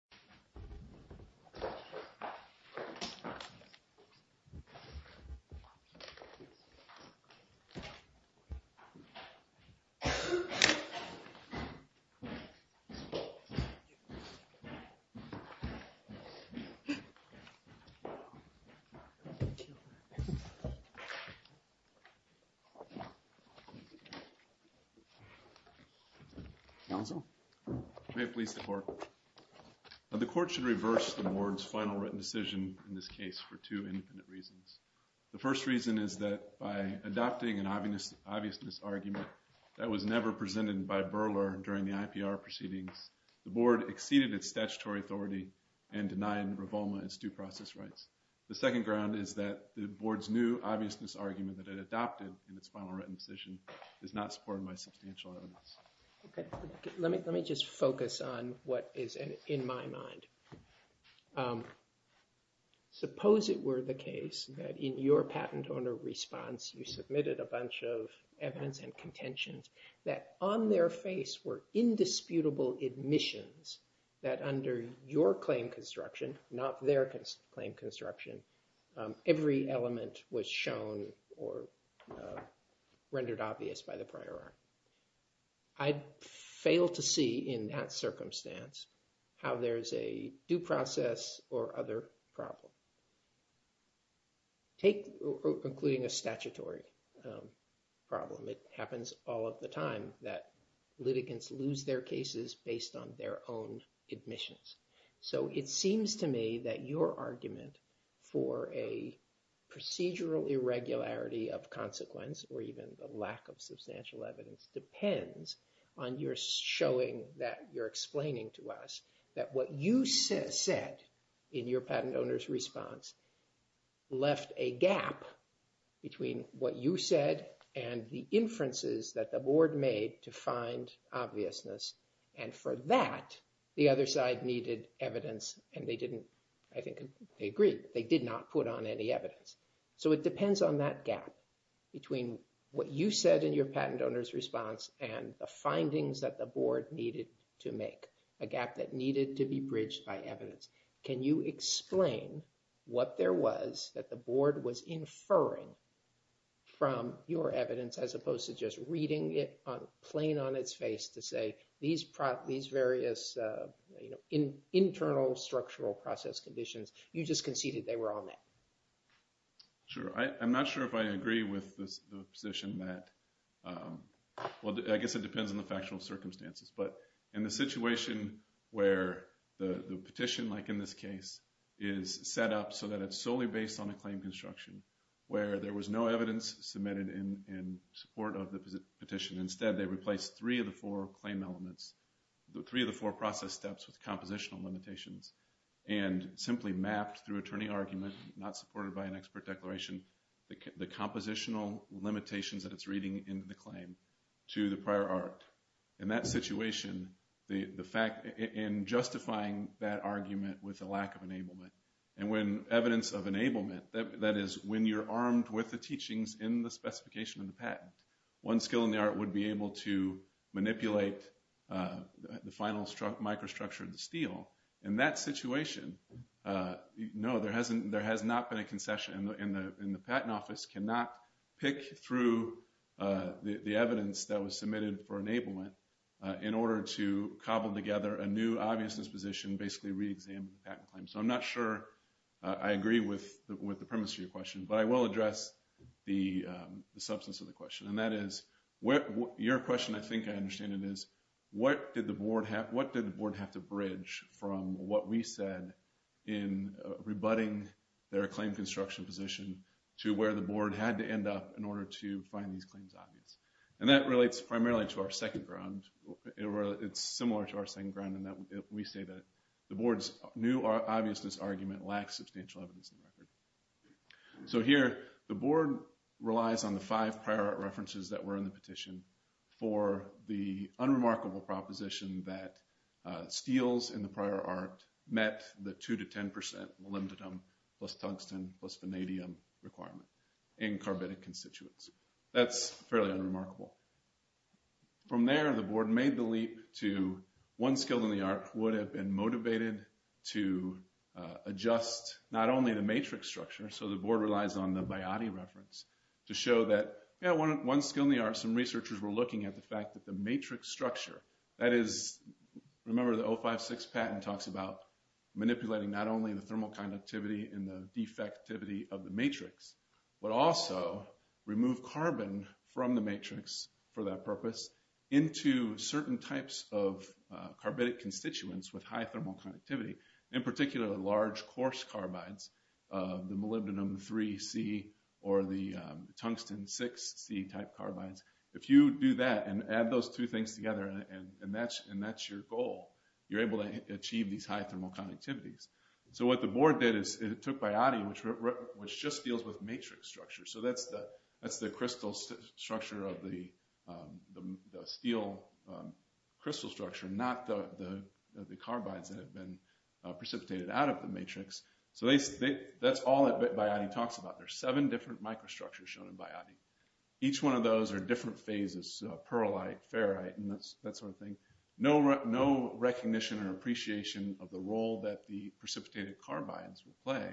Georgeisation Council Council, may I please the Court? The Court should reverse the Board's final written decision in this case for two independent reasons. The first reason is that by adopting an obviousness argument that was never presented by Berler during the IPR proceedings, the Board exceeded its statutory authority and denied Ravoma its due process rights. The second ground is that the Board's new obviousness argument that it adopted in its final written decision is not supported by substantial evidence. Let me just focus on what is in my mind. Suppose it were the case that in your patent owner response you submitted a bunch of evidence and contentions that on their face were indisputable admissions that under your claim construction, not their claim construction, every element was shown or rendered obvious by the prior art. I'd fail to see in that circumstance how there's a due process or other problem. Take including a statutory problem. It happens all of the time that litigants lose their cases based on their own admissions. So it seems to me that your argument for a procedural irregularity of consequence or even the lack of substantial evidence depends on your showing that you're explaining to us that what you said in your patent owner's response left a gap between what you said and the inferences that the Board made to find obviousness. And for that, the other side needed evidence and they didn't, I think they agreed, they did not put on any evidence. So it depends on that gap between what you said in your patent owner's response and the findings that the Board needed to make, a gap that needed to be bridged by evidence. Can you explain what there was that the Board was inferring from your evidence as opposed to just reading it plain on its face to say these various internal structural process conditions, you just conceded they were all met. Sure, I'm not sure if I agree with the position that, well I guess it depends on the factual circumstances. But in the situation where the petition, like in this case, is set up so that it's solely based on a claim construction where there was no evidence submitted in support of the petition. Instead they replaced three of the four claim elements, three of the four process steps with compositional limitations. And simply mapped through attorney argument, not supported by an expert declaration, the compositional limitations that it's reading into the claim to the prior art. In that situation, the fact, in justifying that argument with a lack of enablement. And when evidence of enablement, that is when you're armed with the teachings in the specification of the patent. One skill in the art would be able to manipulate the final microstructure of the steel. In that situation, no, there has not been a concession. And the patent office cannot pick through the evidence that was submitted for enablement in order to cobble together a new obvious disposition, basically reexamine the patent claim. So I'm not sure I agree with the premise of your question, but I will address the substance of the question. And that is, your question I think I understand it is, what did the board have to bridge from what we said in rebutting their claim construction position to where the board had to end up in order to find these claims obvious? And that relates primarily to our second ground. It's similar to our second ground in that we say that the board's new obviousness argument lacks substantial evidence in the record. So here, the board relies on the five prior art references that were in the petition for the unremarkable proposition that steels in the prior art met the 2-10% molybdenum plus tungsten plus vanadium requirement in carbitic constituents. That's fairly unremarkable. From there, the board made the leap to one skill in the art would have been motivated to adjust not only the matrix structure, so the board relies on the biotic reference, to show that one skill in the art, some researchers were looking at the fact that the matrix structure, that is, remember the 056 patent talks about manipulating not only the thermal conductivity and the defectivity of the matrix, but also remove carbon from the matrix for that purpose into certain types of carbonic constituents with high thermal conductivity. In particular, large coarse carbides, the molybdenum 3C or the tungsten 6C type carbides. If you do that and add those two things together and that's your goal, you're able to achieve these high thermal conductivities. So what the board did is it took biotic, which just deals with matrix structure. So that's the crystal structure of the steel crystal structure, not the carbides that have been precipitated out of the matrix. So that's all that biotic talks about. There's seven different microstructures shown in biotic. Each one of those are different phases, pearlite, ferrite, and that sort of thing. No recognition or appreciation of the role that the precipitated carbides will play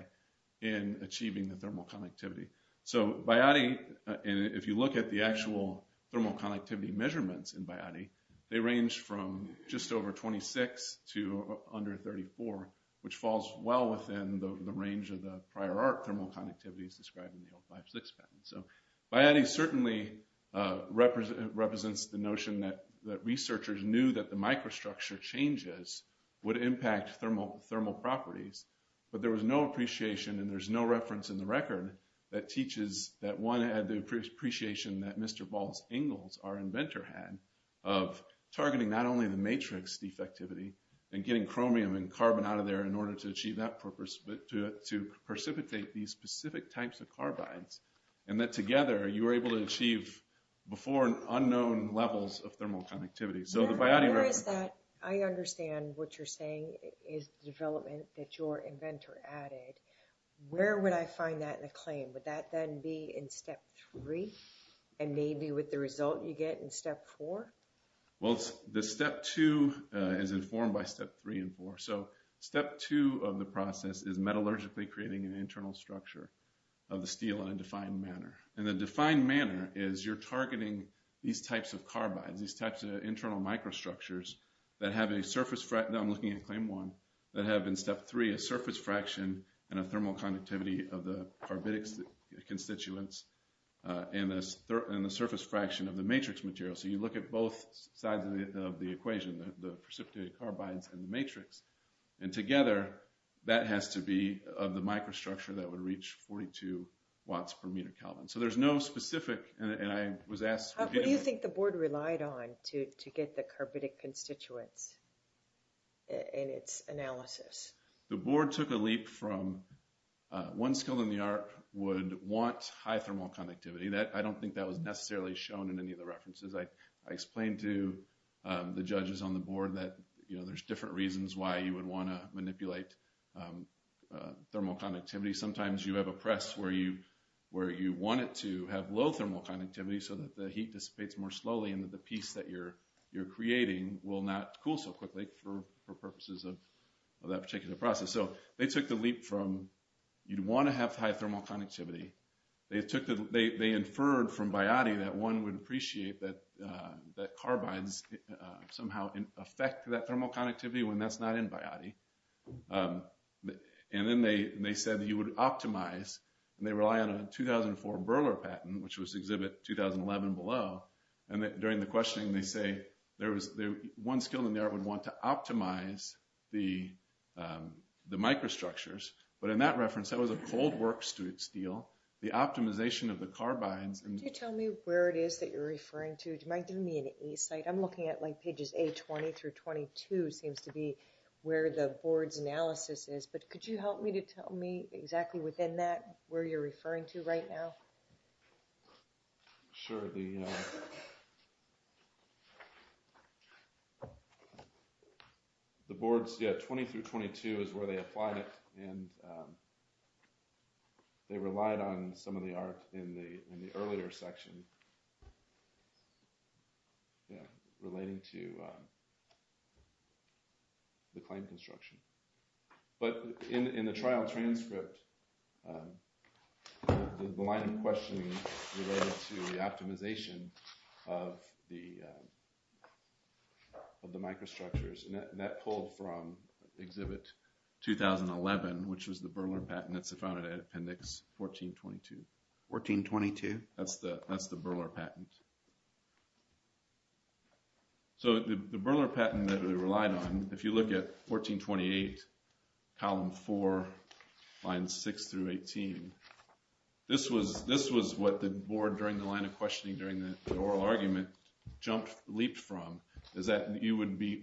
in achieving the thermal conductivity. So biotic, if you look at the actual thermal conductivity measurements in biotic, they range from just over 26 to under 34, which falls well within the range of the prior art thermal conductivities described in the 056 patent. So biotic certainly represents the notion that researchers knew that the microstructure changes would impact thermal properties, but there was no appreciation and there's no reference in the record that teaches that one had the appreciation that Mr. Valls-Engels, our inventor, had of targeting not only the matrix defectivity and getting chromium and carbon out of there in order to achieve that purpose, but to precipitate these specific types of carbides. And that together, you were able to achieve before unknown levels of thermal conductivity. So the biotic reference... I understand what you're saying is development that your inventor added. Where would I find that in a claim? Would that then be in step three and maybe with the result you get in step four? Well, the step two is informed by step three and four. So step two of the process is metallurgically creating an internal structure of the steel in a defined manner. And the defined manner is you're targeting these types of carbides, these types of internal microstructures that have a surface... Now I'm looking at claim one. That have in step three a surface fraction and a thermal conductivity of the carbidic constituents and a surface fraction of the matrix material. So you look at both sides of the equation, the precipitated carbides and the matrix. And together, that has to be of the microstructure that would reach 42 watts per meter kelvin. So there's no specific... And I was asked... What do you think the board relied on to get the carbidic constituents in its analysis? The board took a leap from one skill in the art would want high thermal conductivity. I don't think that was necessarily shown in any of the references. I explained to the judges on the board that there's different reasons why you would want to manipulate thermal conductivity. Sometimes you have a press where you want it to have low thermal conductivity so that the heat dissipates more slowly. And that the piece that you're creating will not cool so quickly for purposes of that particular process. So they took the leap from you'd want to have high thermal conductivity. They inferred from Biotti that one would appreciate that carbides somehow affect that thermal conductivity when that's not in Biotti. And then they said you would optimize. And they rely on a 2004 Berler patent, which was exhibit 2011 below. And during the questioning, they say there was one skill in the art would want to optimize the microstructures. But in that reference, that was a cold work steel. The optimization of the carbides. Could you tell me where it is that you're referring to? Do you mind giving me an A site? I'm looking at pages A20 through 22 seems to be where the board's analysis is. But could you help me to tell me exactly within that where you're referring to right now? Sure. The boards, yeah, 20 through 22 is where they applied it. And they relied on some of the art in the earlier section relating to the claim construction. But in the trial transcript, the line of questioning related to the optimization of the microstructures, and that pulled from exhibit 2011, which was the Berler patent that's found in appendix 1422. 1422? That's the Berler patent. So the Berler patent that they relied on, if you look at 1428, column 4, lines 6 through 18, this was what the board, during the line of questioning, during the oral argument, leaped from. Is that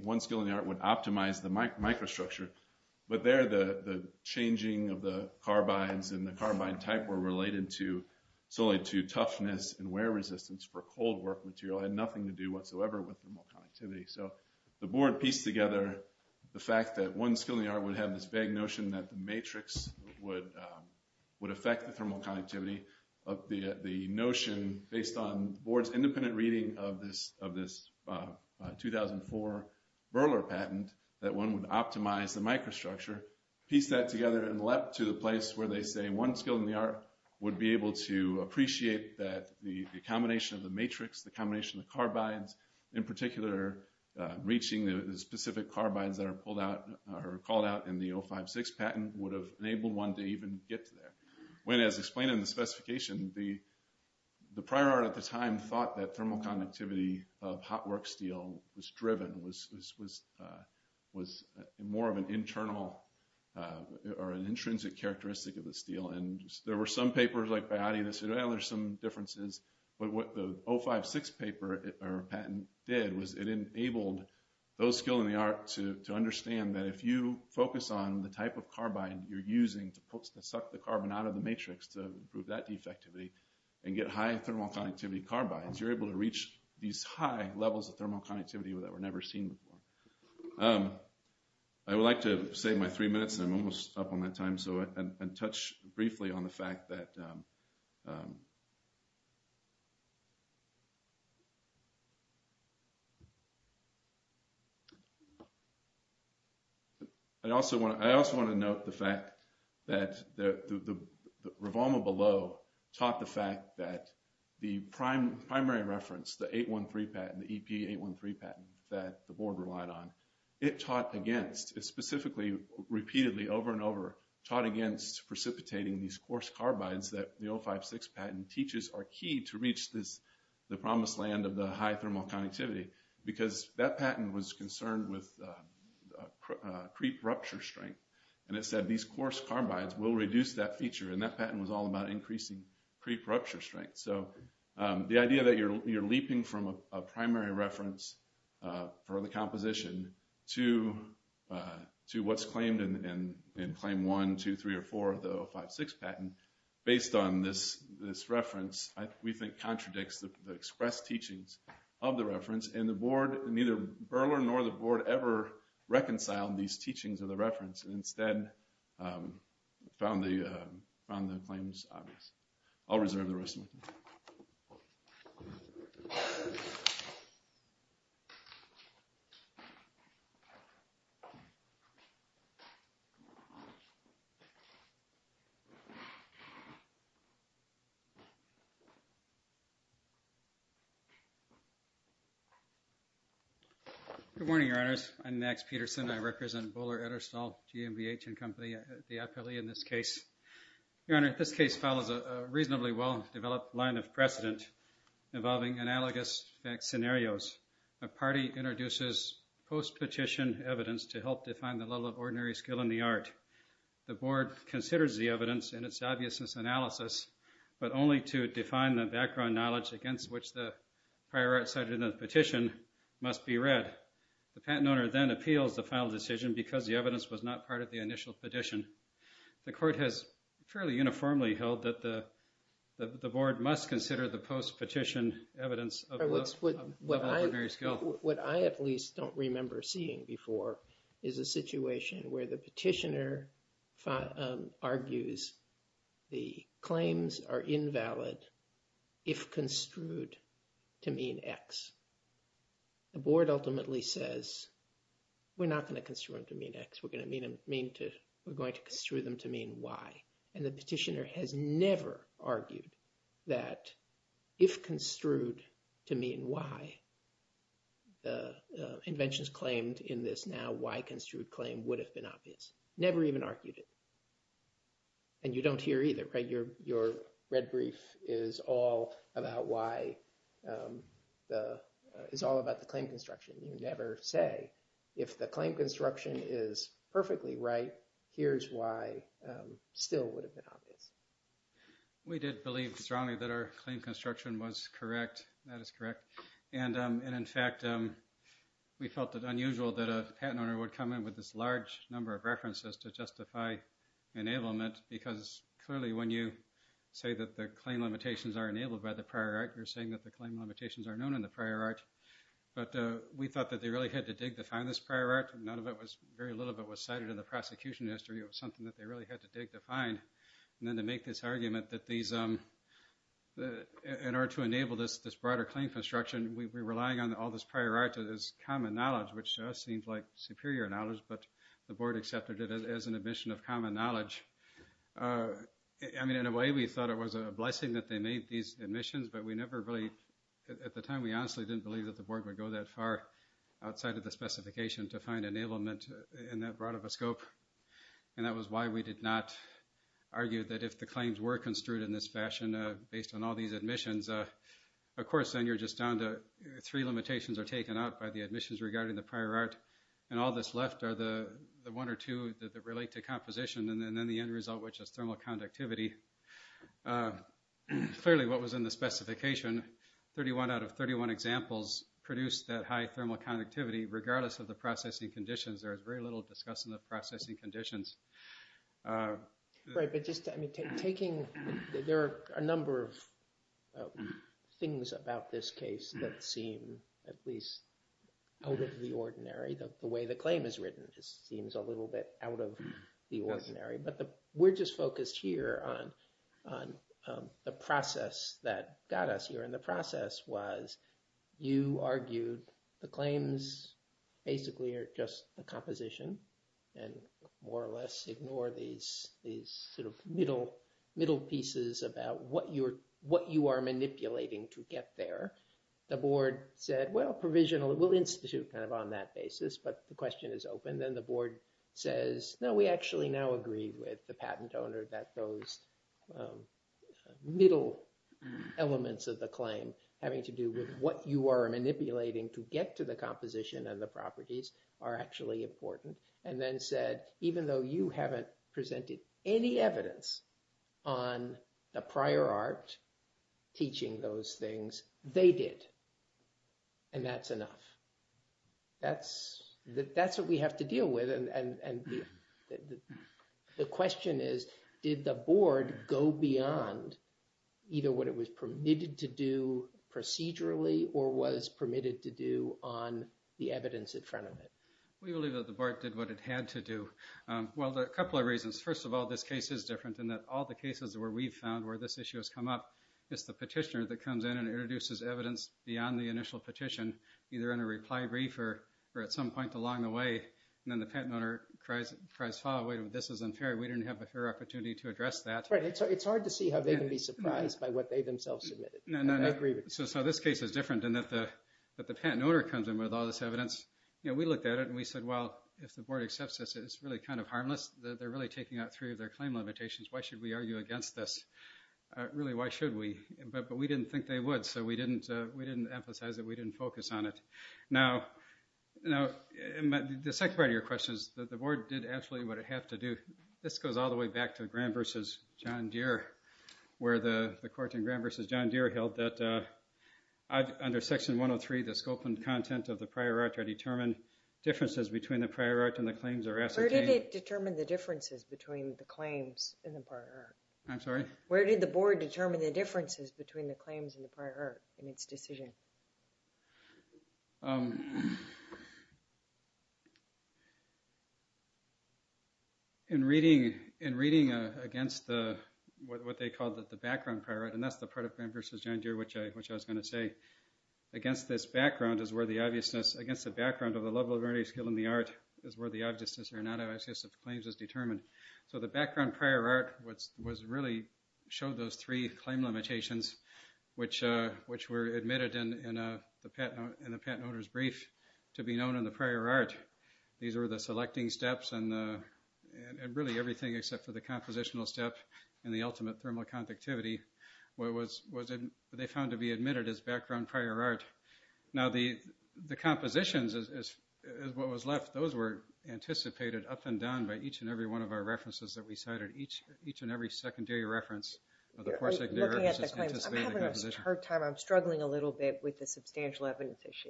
one skill in the art would optimize the microstructure, but there the changing of the carbides and the carbide type were related solely to toughness and wear resistance for cold work material. It had nothing to do whatsoever with thermal conductivity. So the board pieced together the fact that one skill in the art would have this vague notion that the matrix would affect the thermal conductivity. The notion, based on the board's independent reading of this 2004 Berler patent, that one would optimize the microstructure, pieced that together and leapt to the place where they say one skill in the art would be able to appreciate that the combination of the matrix, the combination of the carbides, in particular reaching the specific carbides that are pulled out or called out in the 056 patent would have enabled one to even get to there. When, as explained in the specification, the prior art at the time thought that thermal conductivity of hot work steel was driven, was more of an internal or an intrinsic characteristic of the steel. And there were some papers like Bayati that said, well, there's some differences. But what the 056 paper or patent did was it enabled those skill in the art to understand that if you focus on the type of carbide you're using to suck the carbon out of the matrix to improve that defectivity and get high thermal conductivity carbides, you're able to reach these high levels of thermal conductivity that were never seen before. I would like to save my three minutes, and I'm almost up on that time, and touch briefly on the fact that... I also want to note the fact that the revolver below taught the fact that the primary reference, the 813 patent, the EP813 patent that the board relied on, it taught against, specifically repeatedly over and over, taught against precipitating these coarse carbides that the 056 patent teaches are key to reach the promised land of the high thermal conductivity because that patent was concerned with creep rupture strength. And it said these coarse carbides will reduce that feature, and that patent was all about increasing creep rupture strength. So the idea that you're leaping from a primary reference for the composition to what's claimed in Claim 1, 2, 3, or 4 of the 056 patent, based on this reference, we think contradicts the expressed teachings of the reference, and neither Berler nor the board ever reconciled these teachings of the reference, and instead found the claims obvious. I'll reserve the rest of my time. Good morning, Your Honors. I'm Max Peterson. I represent Bohler, Ederstall, GMBH & Company, the appellee in this case. Your Honor, this case follows a reasonably well-developed line of precedent involving analogous fact scenarios. A party introduces post-petition evidence to help define the level of ordinary skill in the art. The board considers the evidence in its obviousness analysis, but only to define the background knowledge against which the prior art cited in the petition must be read. The patent owner then appeals the final decision because the evidence was not part of the initial petition. The court has fairly uniformly held that the board must consider the post-petition evidence of the level of ordinary skill. What I at least don't remember seeing before is a situation where the petitioner argues the claims are invalid if construed to mean X. The board ultimately says, we're not going to construe them to mean X. We're going to construe them to mean Y. And the petitioner has never argued that if construed to mean Y, the inventions claimed in this now Y-construed claim would have been obvious. Never even argued it. And you don't hear either, right? Your red brief is all about the claim construction. You never say, if the claim construction is perfectly right, here's why still would have been obvious. We did believe strongly that our claim construction was correct. That is correct. And, in fact, we felt it unusual that a patent owner would come in with this large number of references to justify enablement because clearly when you say that the claim limitations are enabled by the prior art, you're saying that the claim limitations are known in the prior art. But we thought that they really had to dig to find this prior art. Very little of it was cited in the prosecution history. It was something that they really had to dig to find. And then to make this argument that in order to enable this broader claim construction, we're relying on all this prior art as common knowledge, which to us seems like superior knowledge, but the board accepted it as an admission of common knowledge. I mean, in a way, we thought it was a blessing that they made these admissions, but we never really, at the time, we honestly didn't believe that the board would go that far outside of the specification to find enablement in that broad of a scope. And that was why we did not argue that if the claims were construed in this fashion, based on all these admissions, of course, then you're just down to three limitations are taken out by the admissions regarding the prior art. And all that's left are the one or two that relate to composition, and then the end result, which is thermal conductivity. Clearly, what was in the specification, 31 out of 31 examples produced that high thermal conductivity, regardless of the processing conditions. There was very little discussed in the processing conditions. Right, but just taking, there are a number of things about this case that seem at least out of the ordinary, the way the claim is written. It seems a little bit out of the ordinary, but we're just focused here on the process that got us here. And the process was you argued the claims basically are just the composition, and more or less ignore these sort of middle pieces about what you are manipulating to get there. The board said, well, provisional, we'll institute kind of on that basis, but the question is open. Then the board says, no, we actually now agree with the patent owner that those middle elements of the claim having to do with what you are manipulating to get to the composition and the properties are actually important. And then said, even though you haven't presented any evidence on the prior art teaching those things, they did. And that's enough. That's what we have to deal with. And the question is, did the board go beyond either what it was permitted to do procedurally or was permitted to do on the evidence in front of it? We believe that the board did what it had to do. Well, there are a couple of reasons. First of all, this case is different in that all the cases where we've found where this issue has come up, it's the petitioner that comes in and introduces evidence beyond the initial petition, either in a reply brief or at some point along the way. And then the patent owner cries, this is unfair. We didn't have a fair opportunity to address that. Right, it's hard to see how they can be surprised by what they themselves submitted. So this case is different in that the patent owner comes in with all this evidence. We looked at it and we said, well, if the board accepts this, it's really kind of harmless. They're really taking out three of their claim limitations. Why should we argue against this? Really, why should we? But we didn't think they would. We didn't emphasize it. We didn't focus on it. Now, the second part of your question is that the board did absolutely what it had to do. This goes all the way back to Graham versus John Deere, where the court in Graham versus John Deere held that under Section 103, the scope and content of the prior art are determined. Differences between the prior art and the claims are ascertained. Where did it determine the differences between the claims and the prior art? I'm sorry? Where did the board determine the differences between the claims and the prior art in its decision? In reading against what they called the background prior art, and that's the part of Graham versus John Deere which I was going to say, against this background is where the obviousness, against the background of the level of early skill in the art is where the obviousness or non-obviousness of the claims is determined. So the background prior art was really, showed those three claim limitations which were admitted in the patent owner's brief to be known in the prior art. These were the selecting steps and really everything except for the compositional step and the ultimate thermal conductivity, what they found to be admitted as background prior art. Now, the compositions is what was left. Those were anticipated up and down by each and every one of our references that we cited, each and every secondary reference. I'm having a hard time. I'm struggling a little bit with the substantial evidence issue.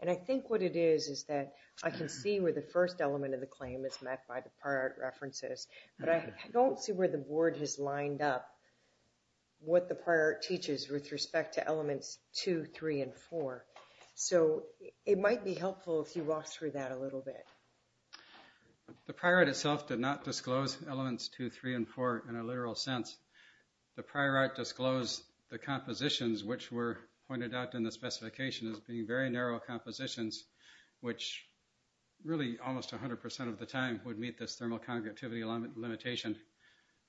And I think what it is is that I can see where the first element of the claim is met by the prior art references, but I don't see where the board has lined up what the prior art teaches with respect to elements two, three, and four. So it might be helpful if you walk through that a little bit. The prior art itself did not disclose elements two, three, and four in a literal sense. The prior art disclosed the compositions which were pointed out in the specification as being very narrow compositions, which really almost 100% of the time would meet this thermal conductivity limitation.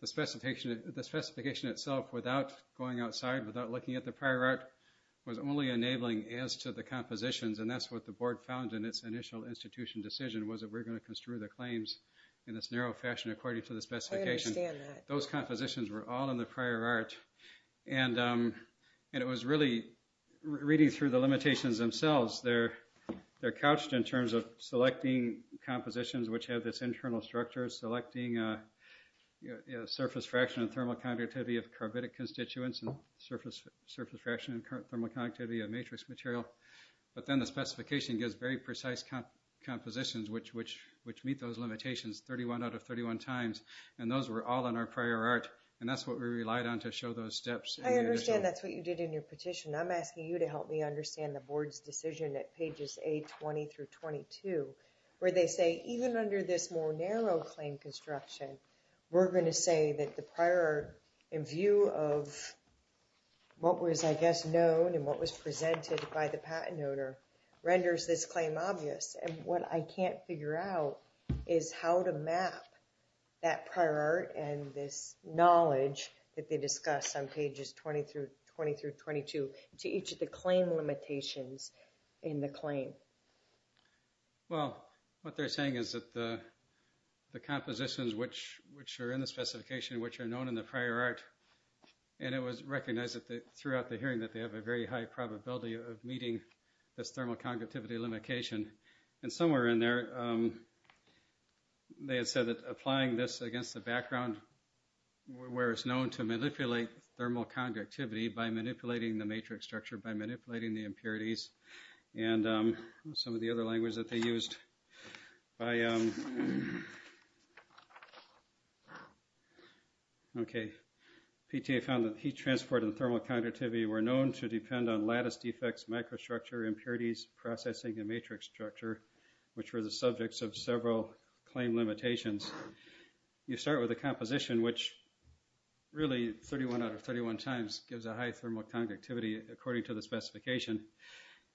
The specification itself without going outside, without looking at the prior art was only enabling as to the compositions, and that's what the board found in its initial institution decision was that we're going to construe the claims in this narrow fashion according to the specifications. I understand that. Those compositions were all in the prior art, and it was really reading through the limitations themselves. They're couched in terms of selecting compositions which have this internal structure, selecting a surface fraction of thermal conductivity of matrix material. But then the specification gives very precise compositions which meet those limitations 31 out of 31 times, and those were all in our prior art, and that's what we relied on to show those steps. I understand that's what you did in your petition. I'm asking you to help me understand the board's decision at pages A20 through 22 where they say even under this more narrow claim construction, we're going to say that the prior art in view of what was, I guess, known and what was presented by the patent owner renders this claim obvious. And what I can't figure out is how to map that prior art and this knowledge that they discussed on pages 20 through 22 to each of the claim limitations in the claim. Well, what they're saying is that the compositions which are in the specification, which are known in the prior art, and it was recognized throughout the hearing that they have a very high probability of meeting this thermal conductivity limitation. And somewhere in there they had said that applying this against the background where it's known to manipulate thermal conductivity by manipulating the matrix structure, by manipulating the impurities. And some of the other language that they used. Okay. PTA found that heat transport and thermal conductivity were known to depend on lattice defects, microstructure, impurities, processing, and matrix structure, which were the subjects of several claim limitations. You start with a composition which really 31 out of 31 times gives a high thermal conductivity according to the specification.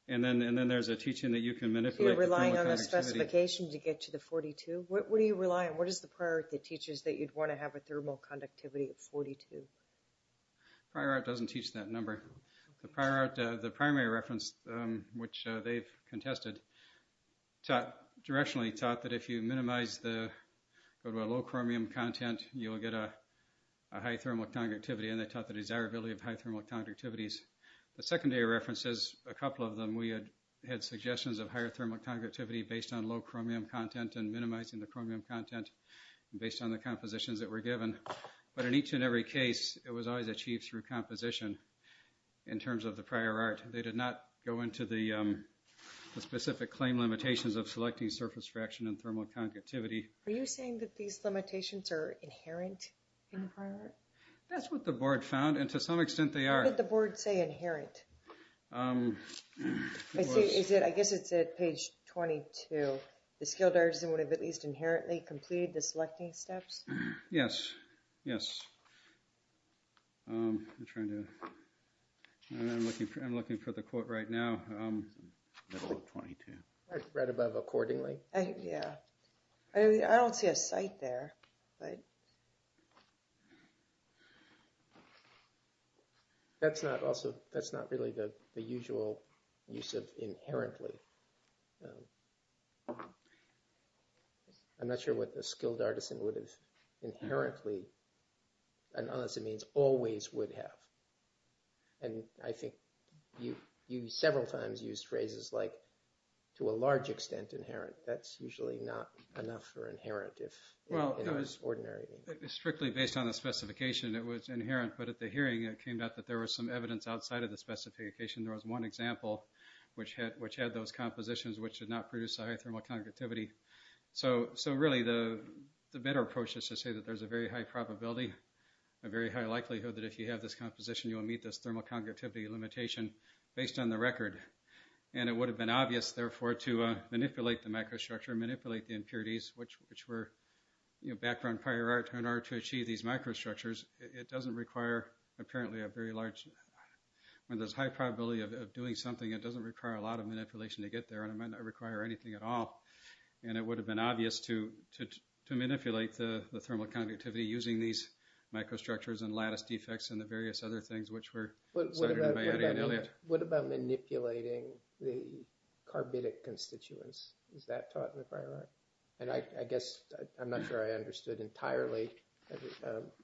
And then there's a teaching that you can manipulate the thermal conductivity. You're relying on the specification to get to the 42? What do you rely on? What is the prior art that teaches that you'd want to have a thermal conductivity of 42? Prior art doesn't teach that number. The prior art, the primary reference, which they've contested, directionally taught that if you minimize the low chromium content, you'll get a high thermal conductivity. And they taught the desirability of high thermal conductivities. The secondary references, a couple of them, we had suggestions of higher thermal conductivity based on low chromium content and minimizing the chromium content, based on the compositions that were given. But in each and every case, it was always achieved through composition in terms of the prior art. They did not go into the specific claim limitations of selecting surface fraction and thermal conductivity. Are you saying that these limitations are inherent in the prior art? That's what the board found, and to some extent they are. What did the board say inherent? I guess it said page 22, the skilled artisan would have at least inherently completed the selecting steps? Yes, yes. I'm looking for the quote right now. The quote 22. Right above accordingly. Yeah. I don't see a cite there. That's not really the usual use of inherently. I'm not sure what the skilled artisan would have inherently, unless it means always would have. And I think you several times used phrases like to a large extent inherent. That's usually not enough for inherent if it was ordinary. Strictly based on the specification, it was inherent. But at the hearing, it came out that there was some evidence outside of the specification. There was one example, which had those compositions, which did not produce a high thermal conductivity. So really the better approach is to say that there's a very high probability, a very high likelihood that if you have this composition, you will meet this thermal conductivity limitation based on the record. And it would have been obvious, therefore, to manipulate the microstructure and manipulate the impurities, which were background prior art in order to achieve these microstructures. It doesn't require apparently a very large, when there's high probability of doing something, it doesn't require a lot of manipulation to get there. And it might not require anything at all. And it would have been obvious to manipulate the thermal conductivity using these microstructures and lattice defects and the various other things, which were. What about manipulating the carbidic constituents? Is that taught in the prior art? And I guess I'm not sure I understood entirely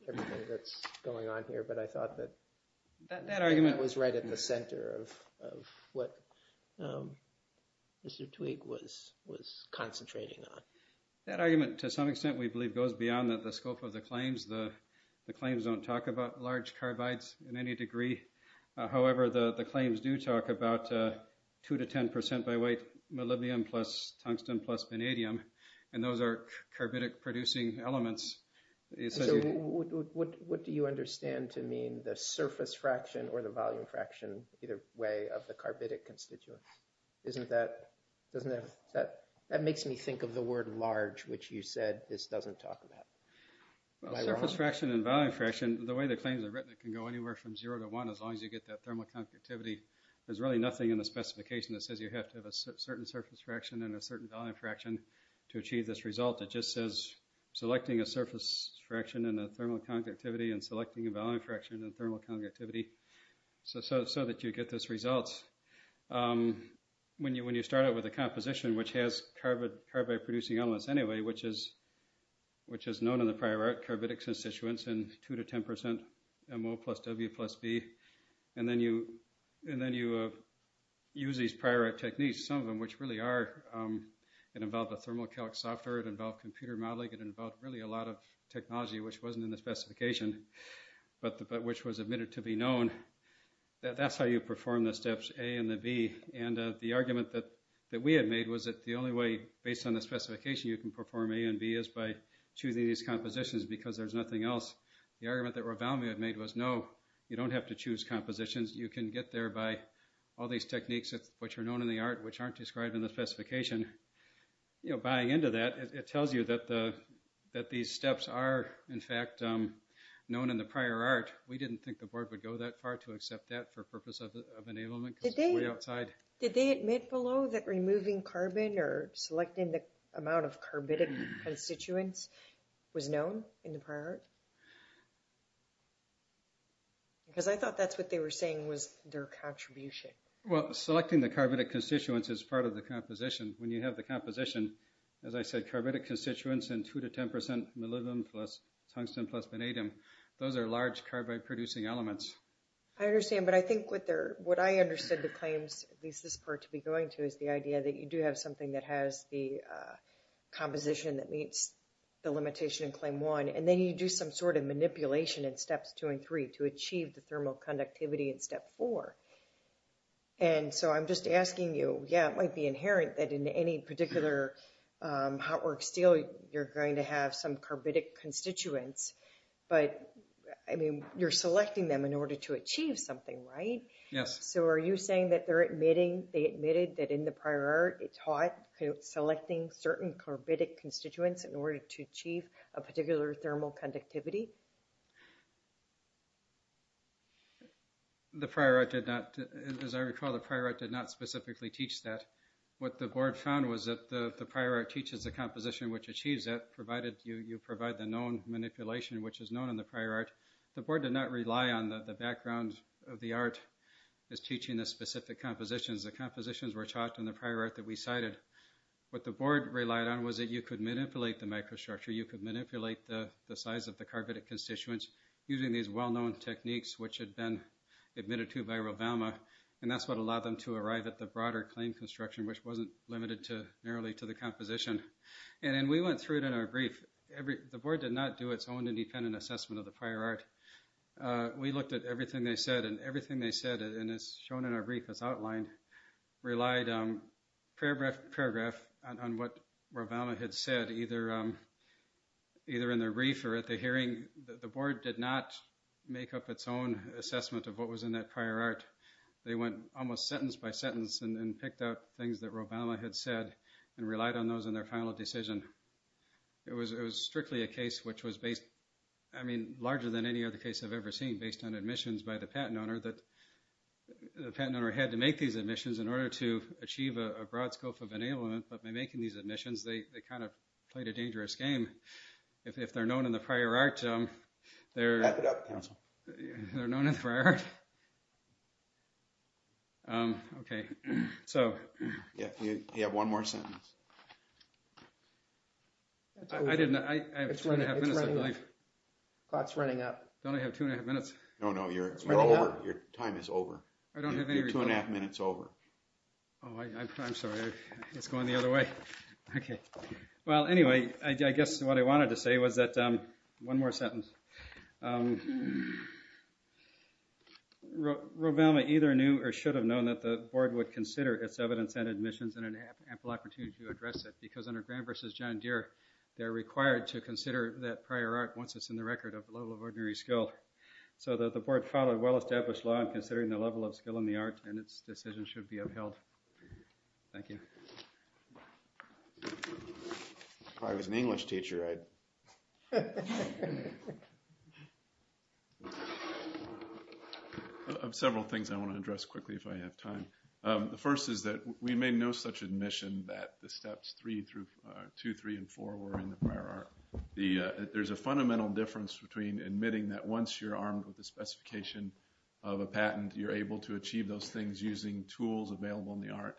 everything that's going on here, but I thought that that argument was right at the center of what Mr. Twigg was concentrating on. That argument, to some extent, we believe goes beyond the scope of the claims. The claims don't talk about large carbides in any degree. However, the claims do talk about two to 10% by weight, molybdenum plus tungsten plus vanadium. And those are carbidic producing elements. So what do you understand to mean the surface fraction or the volume fraction, either way of the carbidic constituents? Isn't that, doesn't that, that makes me think of the word large, which you said this doesn't talk about. Well, surface fraction and volume fraction, the way the claims are written it can go anywhere from zero to one as long as you get that thermal conductivity. There's really nothing in the specification that says you have to have a certain surface fraction and a certain volume fraction to achieve this result. It just says selecting a surface fraction and a thermal conductivity and selecting a volume fraction and thermal conductivity so that you get this result. When you start out with a composition which has carbid producing elements anyway, which is known in the prior art, carbidic constituents and two to 10% MO plus W plus B, and then you use these prior art techniques, some of them, which really are, it involved a thermal calc software, it involved computer modeling, it involved really a lot of technology, which wasn't in the specification, but which was admitted to be known. That's how you perform the steps A and the B. And the argument that we had made was that the only way, the only way you can perform A and B is by choosing these compositions because there's nothing else. The argument that Ravalmi had made was no, you don't have to choose compositions. You can get there by all these techniques which are known in the art, which aren't described in the specification. Buying into that, it tells you that these steps are, in fact, known in the prior art. We didn't think the board would go that far to accept that for purpose of enablement because it's way outside. Did they admit below that removing carbon or selecting the amount of carbidic constituents was known in the prior art? Because I thought that's what they were saying was their contribution. Well, selecting the carbidic constituents is part of the composition. When you have the composition, as I said, carbidic constituents and two to 10% molybdenum plus tungsten plus vanadium, those are large carbide-producing elements. I understand, but I think what I understood the claims, at least this part to be going to, is the idea that you do have something that has the composition that meets the limitation in Claim 1. And then you do some sort of manipulation in Steps 2 and 3 to achieve the thermal conductivity in Step 4. And so I'm just asking you, yeah, it might be inherent that in any particular hot work steel you're going to have some carbidic constituents, but, I mean, you're selecting them in order to achieve something, right? Yes. So are you saying that they're admitting, they admitted that in the prior art it taught selecting certain carbidic constituents in order to achieve a particular thermal conductivity? The prior art did not, as I recall, the prior art did not specifically teach that. What the board found was that the prior art teaches the composition which achieves that, provided you provide the known manipulation, which is known in the prior art. The board did not rely on the background of the art as teaching the specific compositions. The compositions were taught in the prior art that we cited. What the board relied on was that you could manipulate the microstructure, you could manipulate the size of the carbidic constituents using these well-known techniques which had been admitted to by Rovalma, and that's what allowed them to arrive at the broader claim construction, which wasn't limited to, narrowly, to the composition. And we went through it in our brief. The board did not do its own independent assessment of the prior art. We looked at everything they said, and everything they said, and it's shown in our brief, it's outlined, relied paragraph by paragraph on what Rovalma had said, either in their brief or at the hearing. The board did not make up its own assessment of what was in that prior art. They went almost sentence by sentence and picked out things that Rovalma had said and relied on those in their final decision. It was strictly a case which was based, I mean, larger than any other case I've ever seen, based on admissions by the patent owner that the patent owner had to make these admissions in order to achieve a broad scope of enablement, but by making these admissions, they kind of played a dangerous game. If they're known in the prior art, they're known in the prior art. Okay. You have one more sentence. I have two and a half minutes, I believe. Clock's running up. Don't I have two and a half minutes? No, no. You're over. Your time is over. You're two and a half minutes over. Oh, I'm sorry. It's going the other way. Okay. Well, anyway, I guess what I wanted to say was that one more sentence. Rovalma either knew or should have known that the board would consider its evidence and admissions and an ample opportunity to address it, because under Graham v. John Deere, they're required to consider that prior art once it's in the record of the level of ordinary skill. So the board followed well-established law in considering the level of skill in the art, and its decision should be upheld. Thank you. If I was an English teacher, I'd… I have several things I want to address quickly if I have time. The first is that we made no such admission that the steps two, three, and four were in the prior art. There's a fundamental difference between admitting that once you're armed with the specification of a patent, you're able to achieve those things using tools available in the art,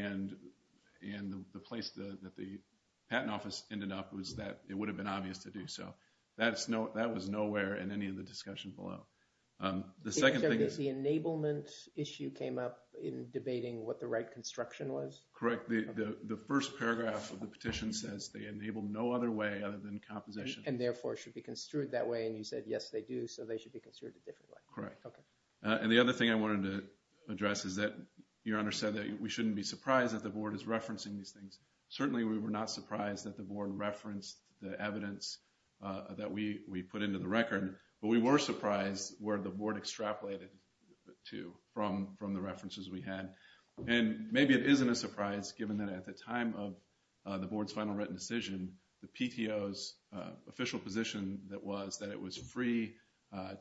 and the place that the patent office ended up was that it would have been obvious to do so. That was nowhere in any of the discussion below. The second thing is… The enablement issue came up in debating what the right construction was? Correct. The first paragraph of the petition says they enabled no other way other than composition. And, therefore, should be construed that way, and you said, yes, they do, so they should be construed a different way. Correct. Okay. And the other thing I wanted to address is that Your Honor said that we shouldn't be surprised that the Board is referencing these things. Certainly we were not surprised that the Board referenced the evidence that we put into the record, but we were surprised where the Board extrapolated to from the references we had. And maybe it isn't a surprise given that at the time of the Board's final written decision, the PTO's official position that was that it was free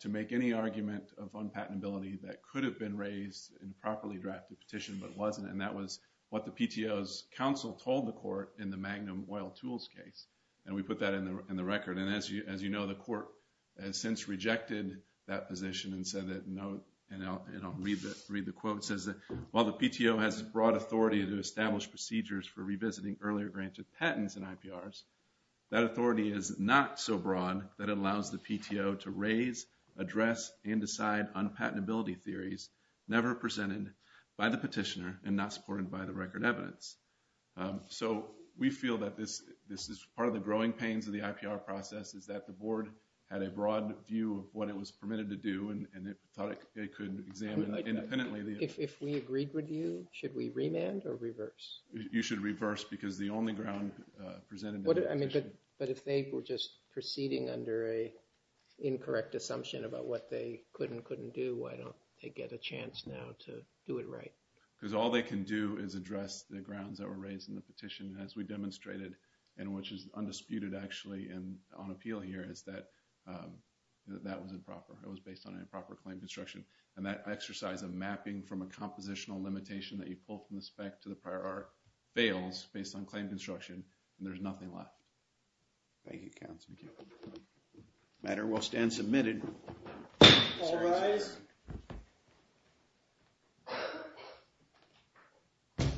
to make any argument of patentability that could have been raised in a properly drafted petition, but wasn't. And that was what the PTO's counsel told the Court in the Magnum Oil Tools case. And we put that in the record. And, as you know, the Court has since rejected that position and said that, and I'll read the quote, it says that while the PTO has broad authority to establish procedures for revisiting earlier granted patents and IPRs, that authority is not so broad that it allows the PTO to raise, address, and decide on patentability theories never presented by the petitioner and not supported by the record evidence. So we feel that this is part of the growing pains of the IPR process, is that the Board had a broad view of what it was permitted to do and it thought it could examine independently. If we agreed with you, should we remand or reverse? You should reverse because the only ground presented in the petition. But if they were just proceeding under an incorrect assumption about what they could and couldn't do, why don't they get a chance now to do it right? Because all they can do is address the grounds that were raised in the petition, as we demonstrated, and which is undisputed actually on appeal here, is that that was improper. It was based on improper claim construction. And that exercise of mapping from a compositional limitation that you pull from the spec to the prior art fails based on claim construction and there's nothing left. Thank you, Counsel. Thank you. The matter will stand submitted. All rise.